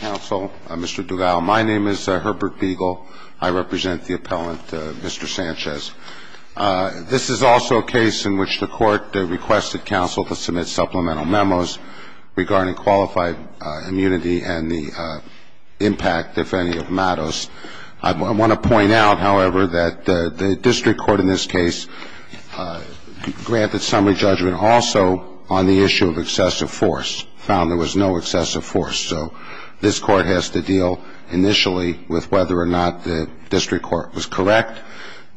Counsel, Mr. Duval. My name is Herbert Beagle. I represent the appellant, Mr. Sanchez. This is also a case in which the court requested counsel to submit supplemental memos regarding qualified immunity and the impact, if any, of MADOS. I want to point out, however, that the district court in this case granted summary judgment also on the issue of excessive force. It was found there was no excessive force. So this court has to deal initially with whether or not the district court was correct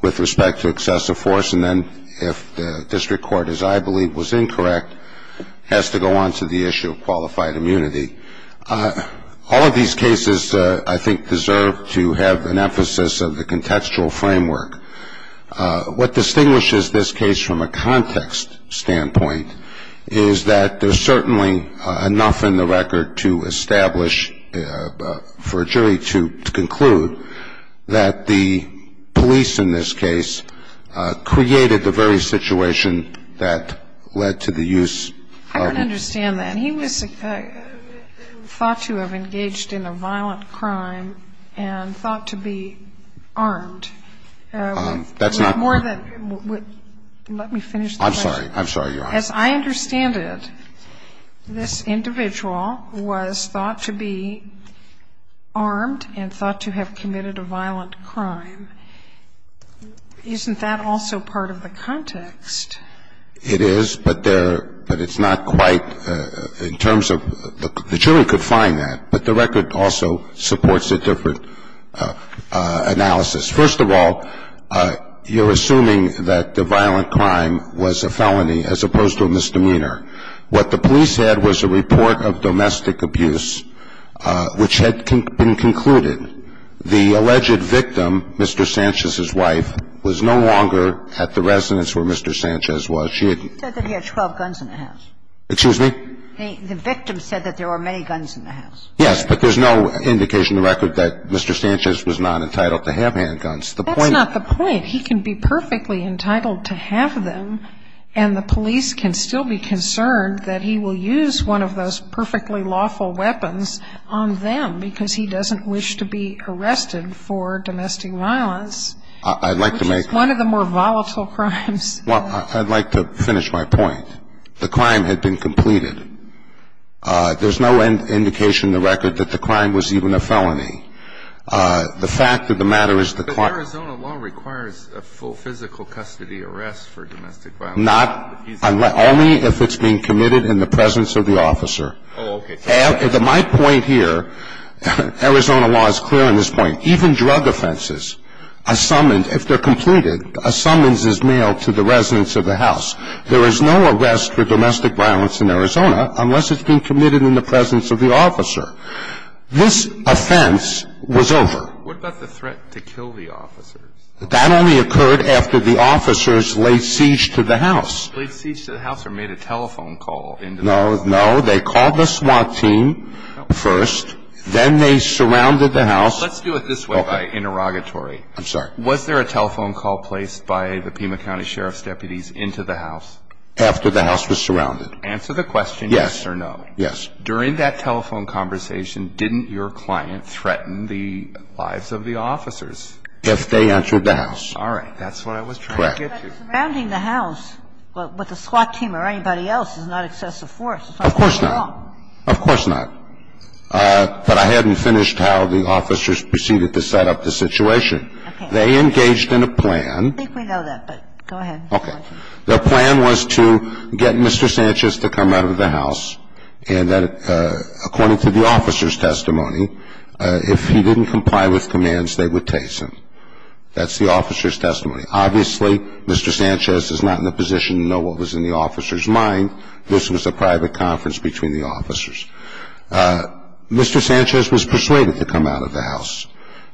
with respect to excessive force. And then if the district court, as I believe, was incorrect, it has to go on to the issue of qualified immunity. All of these cases, I think, deserve to have an emphasis of the contextual framework. What distinguishes this case from a context standpoint is that there's certainly enough in the record to establish, for a jury to conclude, that the police in this case created the very situation that led to the use of. I don't understand that. And he was thought to have engaged in a violent crime and thought to be armed. That's not. Let me finish the question. I'm sorry. I'm sorry, Your Honor. As I understand it, this individual was thought to be armed and thought to have committed a violent crime. Isn't that also part of the context? It is, but it's not quite in terms of the jury could find that. But the record also supports a different analysis. First of all, you're assuming that the violent crime was a felony as opposed to a misdemeanor. What the police had was a report of domestic abuse which had been concluded. The alleged victim, Mr. Sanchez's wife, was no longer at the residence where Mr. Sanchez was. She had been. He said that he had 12 guns in the house. Excuse me? The victim said that there were many guns in the house. Yes, but there's no indication in the record that Mr. Sanchez was not entitled to have handguns. That's not the point. He can be perfectly entitled to have them, and the police can still be concerned that he will use one of those perfectly lawful weapons on them because he doesn't wish to be arrested for domestic violence. I'd like to make one of the more volatile crimes. Well, I'd like to finish my point. The crime had been completed. There's no indication in the record that the crime was even a felony. The fact of the matter is the crime. But Arizona law requires a full physical custody arrest for domestic violence. Only if it's being committed in the presence of the officer. Oh, okay. My point here, Arizona law is clear on this point. Even drug offenses, a summons, if they're completed, a summons is mailed to the residence of the house. There is no arrest for domestic violence in Arizona unless it's been committed in the presence of the officer. This offense was over. What about the threat to kill the officers? That only occurred after the officers laid siege to the house. Laid siege to the house or made a telephone call into the house. No, no. They called the SWAT team first. Then they surrounded the house. Let's do it this way by interrogatory. I'm sorry. Was there a telephone call placed by the Pima County Sheriff's deputies into the house? After the house was surrounded. Answer the question yes or no. Yes. During that telephone conversation, didn't your client threaten the lives of the officers? If they entered the house. All right. That's what I was trying to get to. Correct. Surrounding the house with a SWAT team or anybody else is not excessive force. Of course not. Of course not. But I hadn't finished how the officers proceeded to set up the situation. Okay. They engaged in a plan. I think we know that, but go ahead. Okay. Their plan was to get Mr. Sanchez to come out of the house and that, according to the officer's testimony, if he didn't comply with commands, they would tase him. That's the officer's testimony. Obviously, Mr. Sanchez is not in the position to know what was in the officer's mind. This was a private conference between the officers. Mr. Sanchez was persuaded to come out of the house,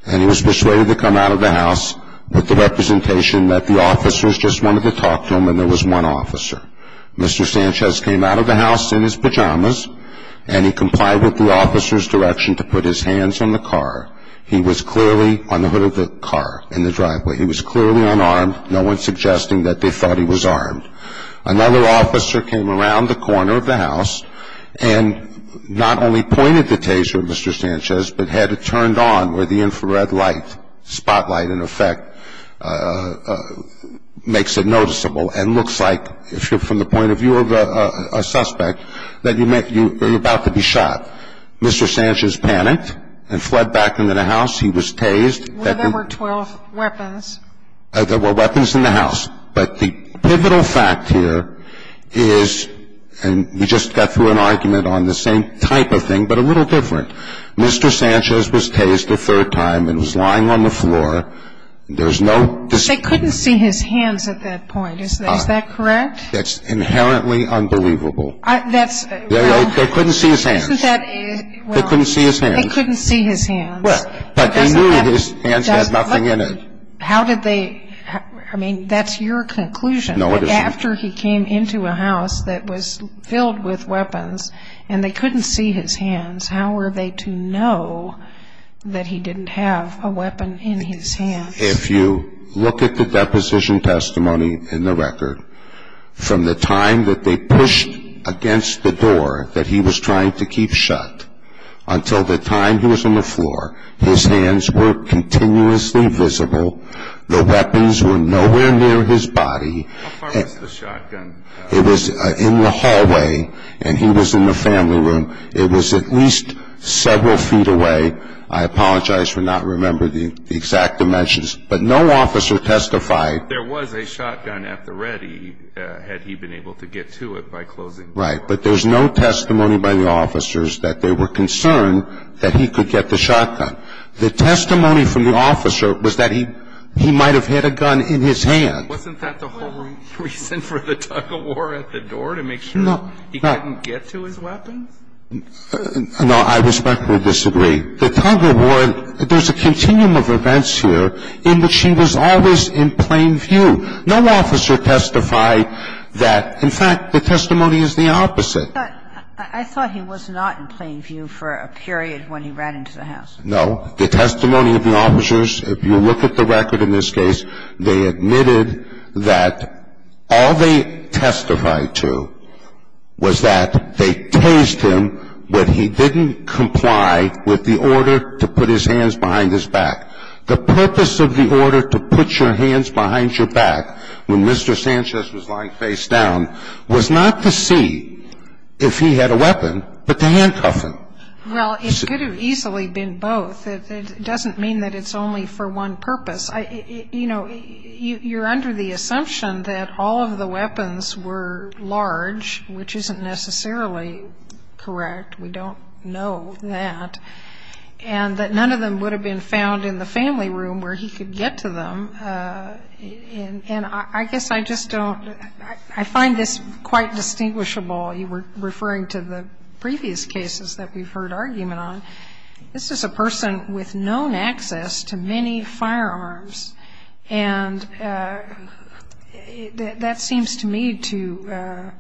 and he was persuaded to come out of the house with the representation that the officers just wanted to talk to him and there was one officer. Mr. Sanchez came out of the house in his pajamas, and he complied with the officer's direction to put his hands on the car. He was clearly on the hood of the car in the driveway. He was clearly unarmed, no one suggesting that they thought he was armed. Another officer came around the corner of the house and not only pointed the taser at Mr. Sanchez, but had it turned on where the infrared light spotlight, in effect, makes it noticeable and looks like, if you're from the point of view of a suspect, that you're about to be shot. Mr. Sanchez panicked and fled back into the house. He was tased. Well, there were 12 weapons. There were weapons in the house, but the pivotal fact here is, and we just got through an argument on the same type of thing but a little different, Mr. Sanchez was tased a third time and was lying on the floor. They couldn't see his hands at that point. Is that correct? That's inherently unbelievable. They couldn't see his hands. They couldn't see his hands. They couldn't see his hands. But they knew his hands had nothing in it. How did they? I mean, that's your conclusion. No, it isn't. After he came into a house that was filled with weapons and they couldn't see his hands, how were they to know that he didn't have a weapon in his hands? If you look at the deposition testimony in the record, from the time that they pushed against the door that he was trying to keep shut until the time he was on the floor, his hands were continuously visible. The weapons were nowhere near his body. How far was the shotgun? It was in the hallway, and he was in the family room. It was at least several feet away. I apologize for not remembering the exact dimensions. But no officer testified. There was a shotgun at the ready, had he been able to get to it by closing the door. Right, but there's no testimony by the officers that they were concerned that he could get the shotgun. The testimony from the officer was that he might have had a gun in his hand. Wasn't that the whole reason for the tug-of-war at the door, to make sure he couldn't get to his weapons? No, I respectfully disagree. The tug-of-war, there's a continuum of events here in which he was always in plain view. No officer testified that. In fact, the testimony is the opposite. But I thought he was not in plain view for a period when he ran into the house. No. The testimony of the officers, if you look at the record in this case, they admitted that all they testified to was that they tased him, but he didn't comply with the order to put his hands behind his back. The purpose of the order to put your hands behind your back when Mr. Sanchez was lying face down was not to see if he had a weapon, but to handcuff him. Well, it could have easily been both. It doesn't mean that it's only for one purpose. You know, you're under the assumption that all of the weapons were large, which isn't necessarily correct. We don't know that. And that none of them would have been found in the family room where he could get to them. And I guess I just don't – I find this quite distinguishable. You were referring to the previous cases that we've heard argument on. This is a person with known access to many firearms. And that seems to me to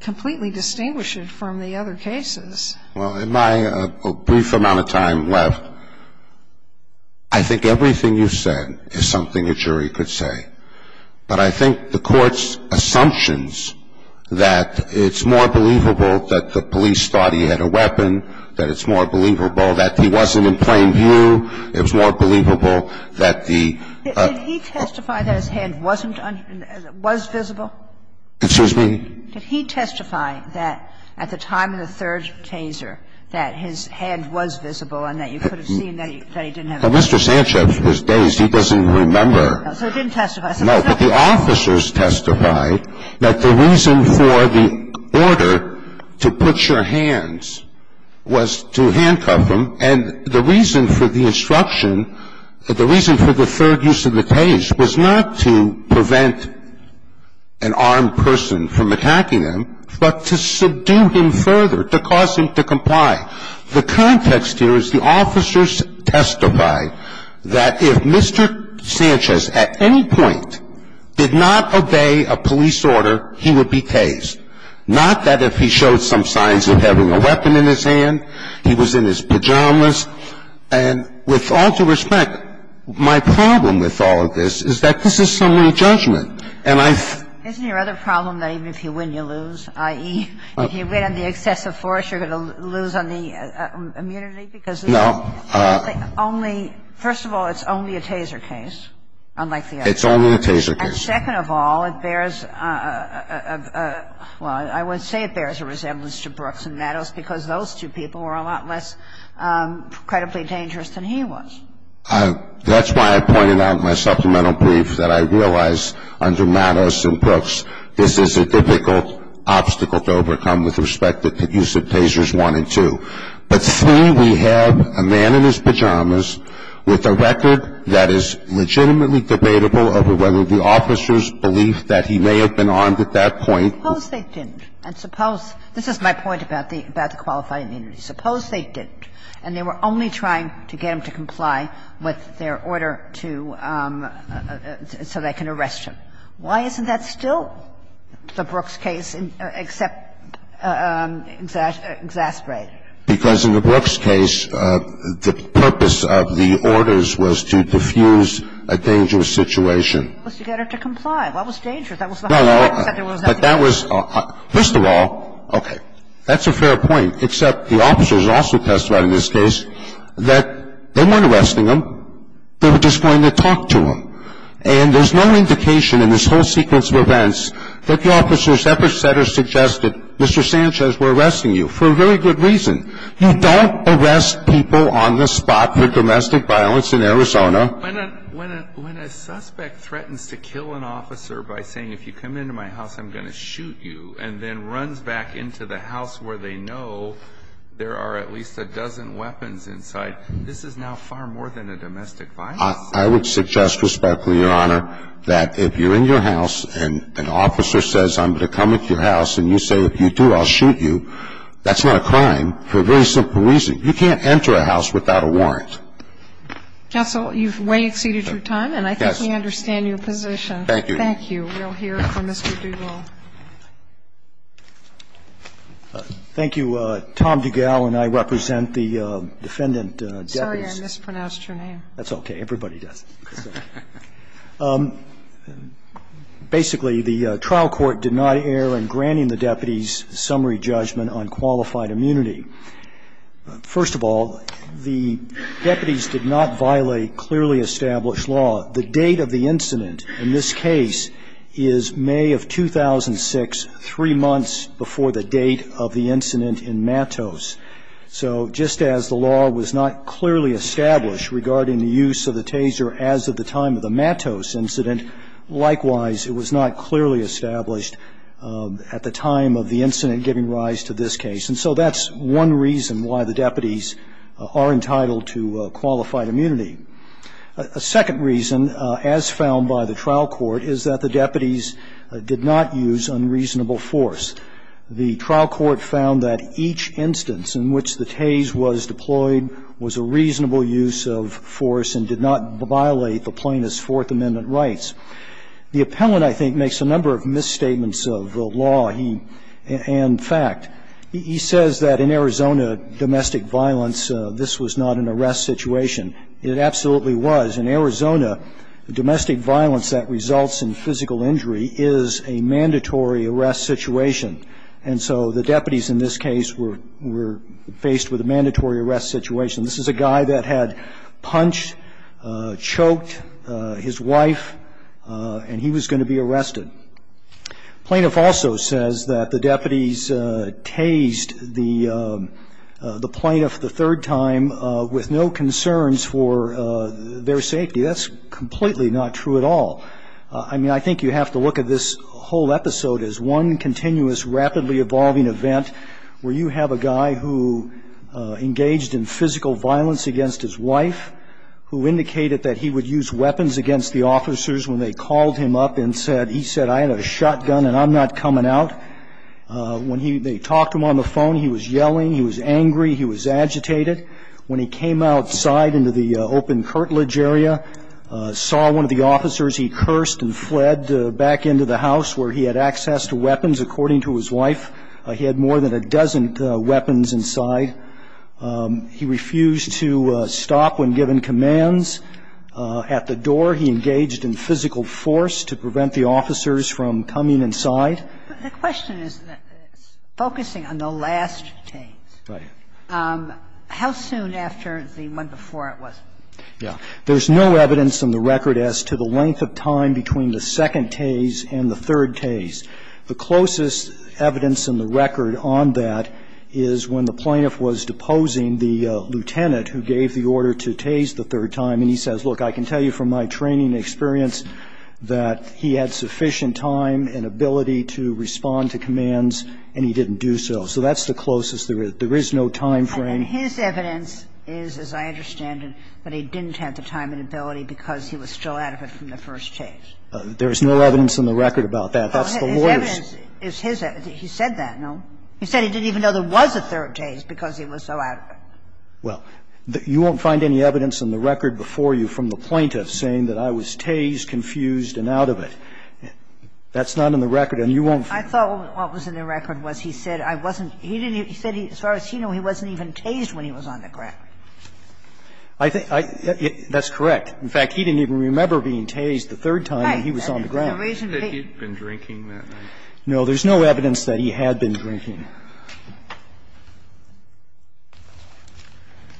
completely distinguish it from the other cases. Well, in my brief amount of time left, I think everything you've said is something a jury could say. But I think the Court's assumptions that it's more believable that the police thought he had a weapon, that it's more believable that he wasn't in plain view, it was more believable that the – Did he testify that his hand wasn't – was visible? Excuse me? Did he testify that at the time of the third taser that his hand was visible and that you could have seen that he didn't have a weapon? But Mr. Sanchez was dazed. He doesn't remember. So he didn't testify. No. But the officers testified that the reason for the order to put your hands was to handcuff him, and the reason for the instruction, the reason for the third use of the taser was not to prevent an armed person from attacking him, but to subdue him further, to cause him to comply. The context here is the officers testified that if Mr. Sanchez at any point did not obey a police order, he would be tased, not that if he showed some signs of having a weapon in his hand, he was in his pajamas. And with all due respect, my problem with all of this is that this is summary judgment, and I've – Isn't your other problem that even if you win, you lose, i.e., if you win on the excessive force, you're going to lose on the immunity? No. Because only – first of all, it's only a taser case, unlike the others. It's only a taser case. And second of all, it bears a – well, I would say it bears a resemblance to Brooks and Mattos because those two people were a lot less credibly dangerous than he was. That's why I pointed out in my supplemental brief that I realize under Mattos and Brooks this is a difficult obstacle to overcome with respect to the use of tasers 1 and 2. But 3, we have a man in his pajamas with a record that is legitimately debatable over whether the officer's belief that he may have been armed at that point. Suppose they didn't. And suppose – this is my point about the qualified immunity. Suppose they didn't, and they were only trying to get him to comply with their order to – so they can arrest him. Why isn't that still the Brooks case except exasperated? Because in the Brooks case, the purpose of the orders was to defuse a dangerous situation. It was to get her to comply. What was dangerous? That was the whole point. No, no. But that was – first of all, okay, that's a fair point, except the officers also testified in this case that they weren't arresting him. They were just going to talk to him. And there's no indication in this whole sequence of events that the officers ever said or suggested, Mr. Sanchez, we're arresting you, for a very good reason. You don't arrest people on the spot for domestic violence in Arizona. When a suspect threatens to kill an officer by saying, if you come into my house, I'm going to shoot you, and then runs back into the house where they know there are at least a dozen weapons inside, this is now far more than a domestic violence. I would suggest, respectfully, Your Honor, that if you're in your house and an officer says, I'm going to come into your house, and you say, if you do, I'll shoot you, that's not a crime for a very simple reason. You can't enter a house without a warrant. Counsel, you've way exceeded your time. Yes. And I think we understand your position. Thank you. Thank you. We'll hear from Mr. Dugall. Thank you. Tom Dugall and I represent the defendant, Debbie's. Sorry, I mispronounced your name. That's okay. Everybody does. Basically, the trial court did not err in granting the deputies summary judgment on qualified immunity. First of all, the deputies did not violate clearly established law. The date of the incident in this case is May of 2006, three months before the date of the incident in Matos. So just as the law was not clearly established regarding the use of the taser as of the time of the Matos incident, likewise, it was not clearly established at the time of the incident giving rise to this case. And so that's one reason why the deputies are entitled to qualified immunity. A second reason, as found by the trial court, is that the deputies did not use unreasonable force. The trial court found that each instance in which the tase was deployed was a reasonable use of force and did not violate the plaintiff's Fourth Amendment rights. The appellant, I think, makes a number of misstatements of the law and fact. He says that in Arizona, domestic violence, this was not an arrest situation. It absolutely was. In Arizona, domestic violence that results in physical injury is a mandatory arrest situation. And so the deputies in this case were faced with a mandatory arrest situation. This is a guy that had punched, choked his wife, and he was going to be arrested. Plaintiff also says that the deputies tased the plaintiff the third time with no concerns for their safety. That's completely not true at all. I mean, I think you have to look at this whole episode as one continuous, rapidly evolving event where you have a guy who engaged in physical violence against his wife, who indicated that he would use weapons against the officers when they called him up and said, he said, I have a shotgun and I'm not coming out. When they talked to him on the phone, he was yelling, he was angry, he was agitated. When he came outside into the open curtilage area, saw one of the officers, he cursed and fled back into the house where he had access to weapons, according to his wife. He had more than a dozen weapons inside. He refused to stop when given commands. At the door, he engaged in physical force to prevent the officers from coming inside. The question is focusing on the last tase. Right. How soon after the one before it was? Yeah. There's no evidence in the record as to the length of time between the second tase and the third tase. The closest evidence in the record on that is when the plaintiff was deposing the lieutenant who gave the order to tase the third time, and he says, look, I can So he didn't have sufficient time and ability to respond to commands, and he didn't do so. So that's the closest there is. There is no time frame. And his evidence is, as I understand it, that he didn't have the time and ability because he was still out of it from the first tase. There is no evidence in the record about that. That's the lawyer's. His evidence is his evidence. He said that, no? He said he didn't even know there was a third tase because he was so out of it. Well, you won't find any evidence in the record before you from the plaintiff saying that I was tased, confused, and out of it. That's not in the record, and you won't find it. I thought what was in the record was he said I wasn't he didn't he said as far as he knew he wasn't even tased when he was on the ground. I think that's correct. In fact, he didn't even remember being tased the third time when he was on the ground. Right. The reason he That he'd been drinking that night. No. There's no evidence that he had been drinking.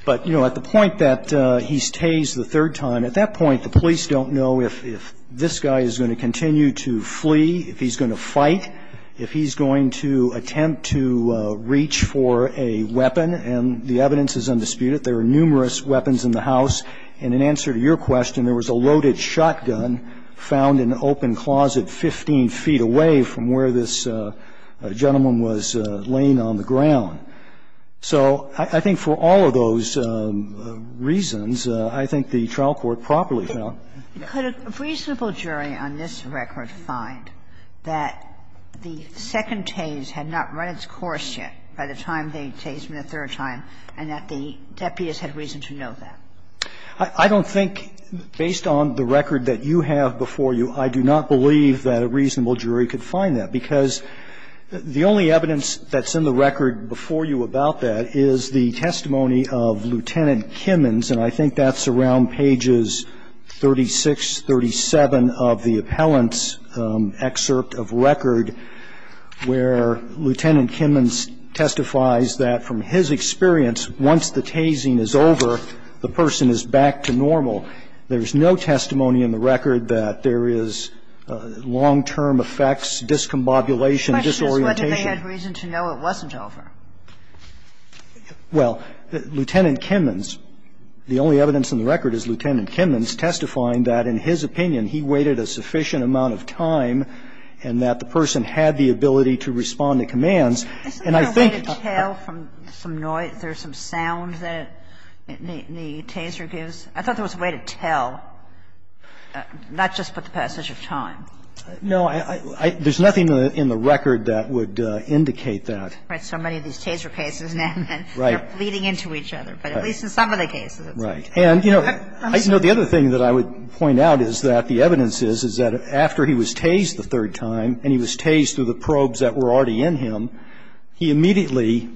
But, you know, at the point that he's tased the third time, at that point, the police don't know if this guy is going to continue to flee, if he's going to fight, if he's going to attempt to reach for a weapon. And the evidence is undisputed. There are numerous weapons in the house. And in answer to your question, there was a loaded shotgun found in an open closet 15 feet away from where this gentleman was laying on the ground. So I think for all of those reasons, I think the trial court properly found. Could a reasonable jury on this record find that the second tase had not run its course yet by the time they had tased him the third time and that the deputies had reason to know that? I don't think, based on the record that you have before you, I do not believe that a reasonable jury could find that, because the only evidence that's in the record before you about that is the testimony of Lieutenant Kimmons, and I think that's around pages 36, 37 of the appellant's excerpt of record, where Lieutenant Kimmons testifies that from his experience, once the tasing is over, the person is back to normal. There's no testimony in the record that there is long-term effects, discombobulation, disorientation. The question is whether they had reason to know it wasn't over. Well, Lieutenant Kimmons, the only evidence in the record is Lieutenant Kimmons testifying that, in his opinion, he waited a sufficient amount of time and that the person had the ability to respond to commands. And I think that's true. I think there was a way to tell from the noise or some sound that the taser gives. I thought there was a way to tell, not just with the passage of time. No, I don't. There's nothing in the record that would indicate that. Right. So many of these taser cases now are leading into each other. Right. But at least in some of the cases, it's right. Right. And, you know, the other thing that I would point out is that the evidence is, is that after he was tased the third time, and he was tased through the probes that were already in him, he immediately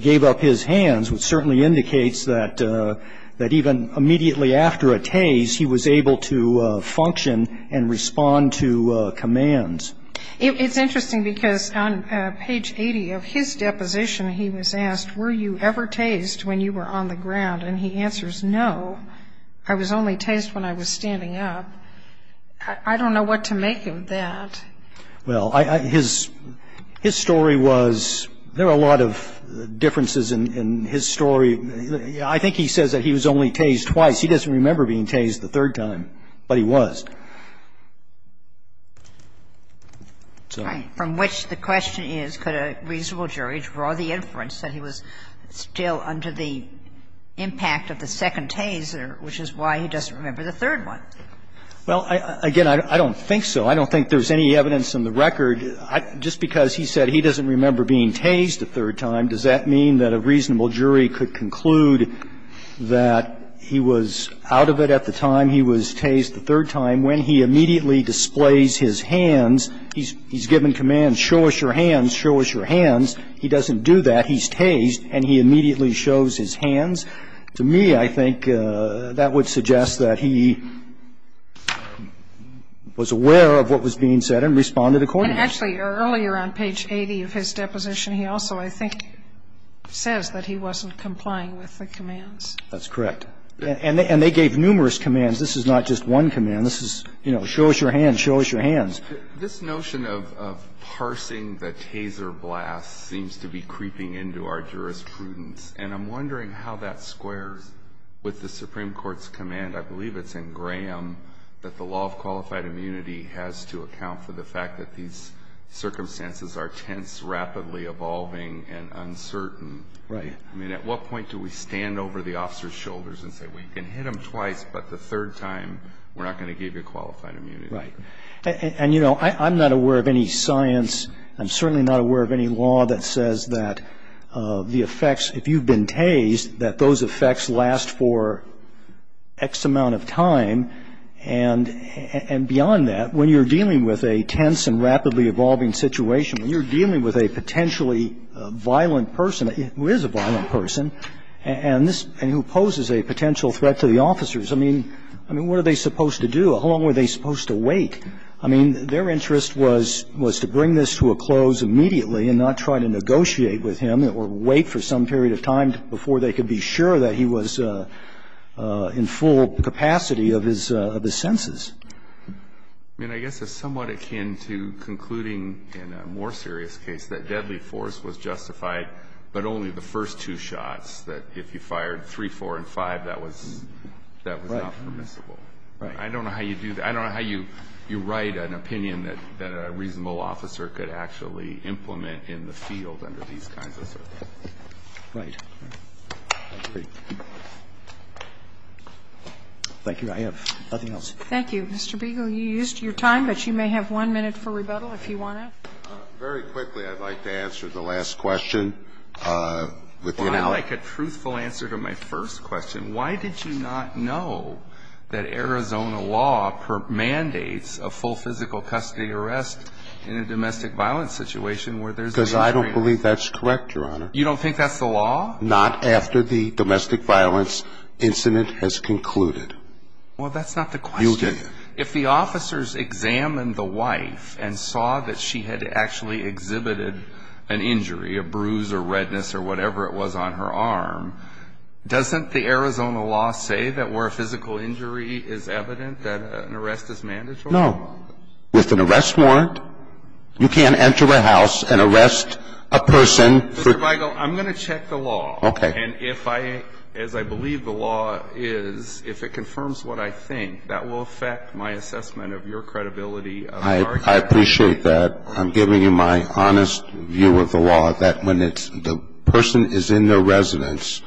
gave up his hands, which certainly indicates that even immediately after a tase, he was able to function and respond to commands. It's interesting because on page 80 of his deposition, he was asked, Were you ever tased when you were on the ground? And he answers, No, I was only tased when I was standing up. I don't know what to make of that. Well, his story was, there are a lot of differences in his story. I think he says that he was only tased twice. He doesn't remember being tased the third time, but he was. Right, from which the question is, could a reasonable jury draw the inference that he was still under the impact of the second taser, which is why he doesn't remember the third one? Well, again, I don't think so. I don't think there's any evidence in the record. Just because he said he doesn't remember being tased the third time, does that mean that a reasonable jury could conclude that he was out of it at the time he was tased the third time when he immediately displays his hands? He's given commands, Show us your hands, show us your hands. He doesn't do that. He's tased, and he immediately shows his hands. To me, I think that would suggest that he was aware of what was being said and responded accordingly. And actually, earlier on page 80 of his deposition, he also, I think, says that he wasn't complying with the commands. That's correct. And they gave numerous commands. This is not just one command. This is, you know, show us your hands, show us your hands. This notion of parsing the taser blast seems to be creeping into our jurisprudence, and I'm wondering how that squares with the Supreme Court's command. I believe it's in Graham that the law of qualified immunity has to account for the fact that these circumstances are tense, rapidly evolving, and uncertain. Right. I mean, at what point do we stand over the officer's shoulders and say, well, you can hit him twice, but the third time, we're not going to give you qualified immunity? Right. And, you know, I'm not aware of any science. I'm certainly not aware of any law that says that the effects, if you've been tased, that those effects last for X amount of time. And beyond that, when you're dealing with a tense and rapidly evolving situation, when you're dealing with a potentially violent person, who is a violent person, and who poses a potential threat to the officers, I mean, what are they supposed to do? How long were they supposed to wait? I mean, their interest was to bring this to a close immediately and not try to negotiate with him or wait for some period of time before they could be sure that he was in full capacity of his senses. I mean, I guess it's somewhat akin to concluding in a more serious case that deadly force was justified, but only the first two shots, that if you fired three, four, and five, that was not permissible. Right. I don't know how you do that. I don't know how you write an opinion that a reasonable officer could actually implement in the field under these kinds of circumstances. Right. I agree. Thank you. I have nothing else. Thank you. Mr. Biegel, you used your time, but you may have one minute for rebuttal if you want to. Very quickly, I'd like to answer the last question. I'd like a truthful answer to my first question. Why did you not know that Arizona law mandates a full physical custody arrest in a domestic violence situation where there's an injury? Because I don't believe that's correct, Your Honor. You don't think that's the law? Not after the domestic violence incident has concluded. Well, that's not the question. You'll get it. If the officers examined the wife and saw that she had actually exhibited an injury, a bruise or redness or whatever it was on her arm, doesn't the Arizona law say that where a physical injury is evident, that an arrest is mandatory? No. With an arrest warrant, you can't enter a house and arrest a person for ---- Mr. Biegel, I'm going to check the law. Okay. And if I, as I believe the law is, if it confirms what I think, that will affect my assessment of your credibility of the argument. I appreciate that. I'm giving you my honest view of the law, that when it's the person is in the residence,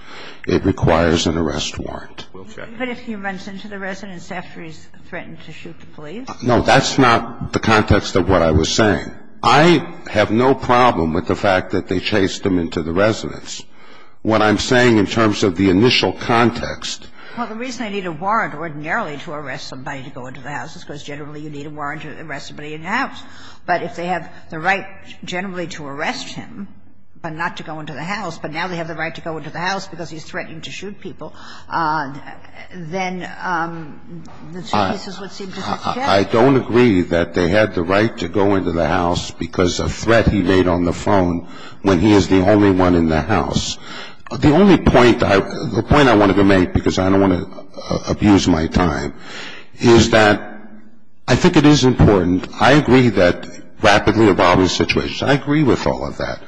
it requires an arrest warrant. We'll check it. But if he runs into the residence after he's threatened to shoot the police? No, that's not the context of what I was saying. I have no problem with the fact that they chased him into the residence. What I'm saying in terms of the initial context ---- Well, the reason they need a warrant ordinarily to arrest somebody to go into the house, but if they have the right generally to arrest him, but not to go into the house, but now they have the right to go into the house because he's threatening to shoot people, then this is what seems to suggest. I don't agree that they had the right to go into the house because of threat he made on the phone when he is the only one in the house. The only point I ---- the point I wanted to make, because I don't want to abuse my time, is that I think it is important. I agree that rapidly evolving situations. I agree with all of that.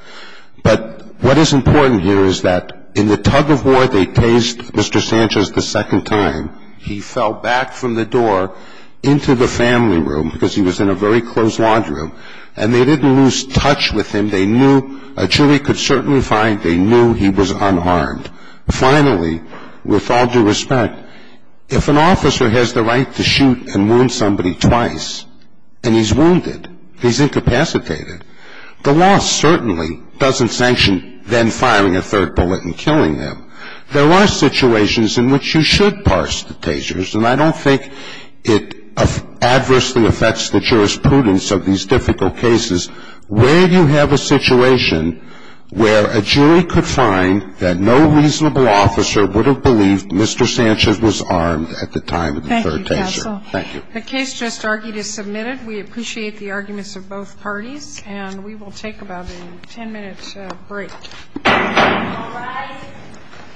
But what is important here is that in the tug of war they chased Mr. Sanchez the second time, he fell back from the door into the family room because he was in a very closed laundry room, and they didn't lose touch with him. They knew a jury could certainly find they knew he was unharmed. Finally, with all due respect, if an officer has the right to shoot and wound somebody twice, and he's wounded, he's incapacitated, the law certainly doesn't sanction then firing a third bullet and killing him. There are situations in which you should parse the tasers, and I don't think it adversely affects the jurisprudence of these difficult cases. Where do you have a situation where a jury could find that no reasonable officer would have believed Mr. Sanchez was armed at the time of the third taser? Thank you. The case just argued is submitted. We appreciate the arguments of both parties, and we will take about a ten-minute break. All rise.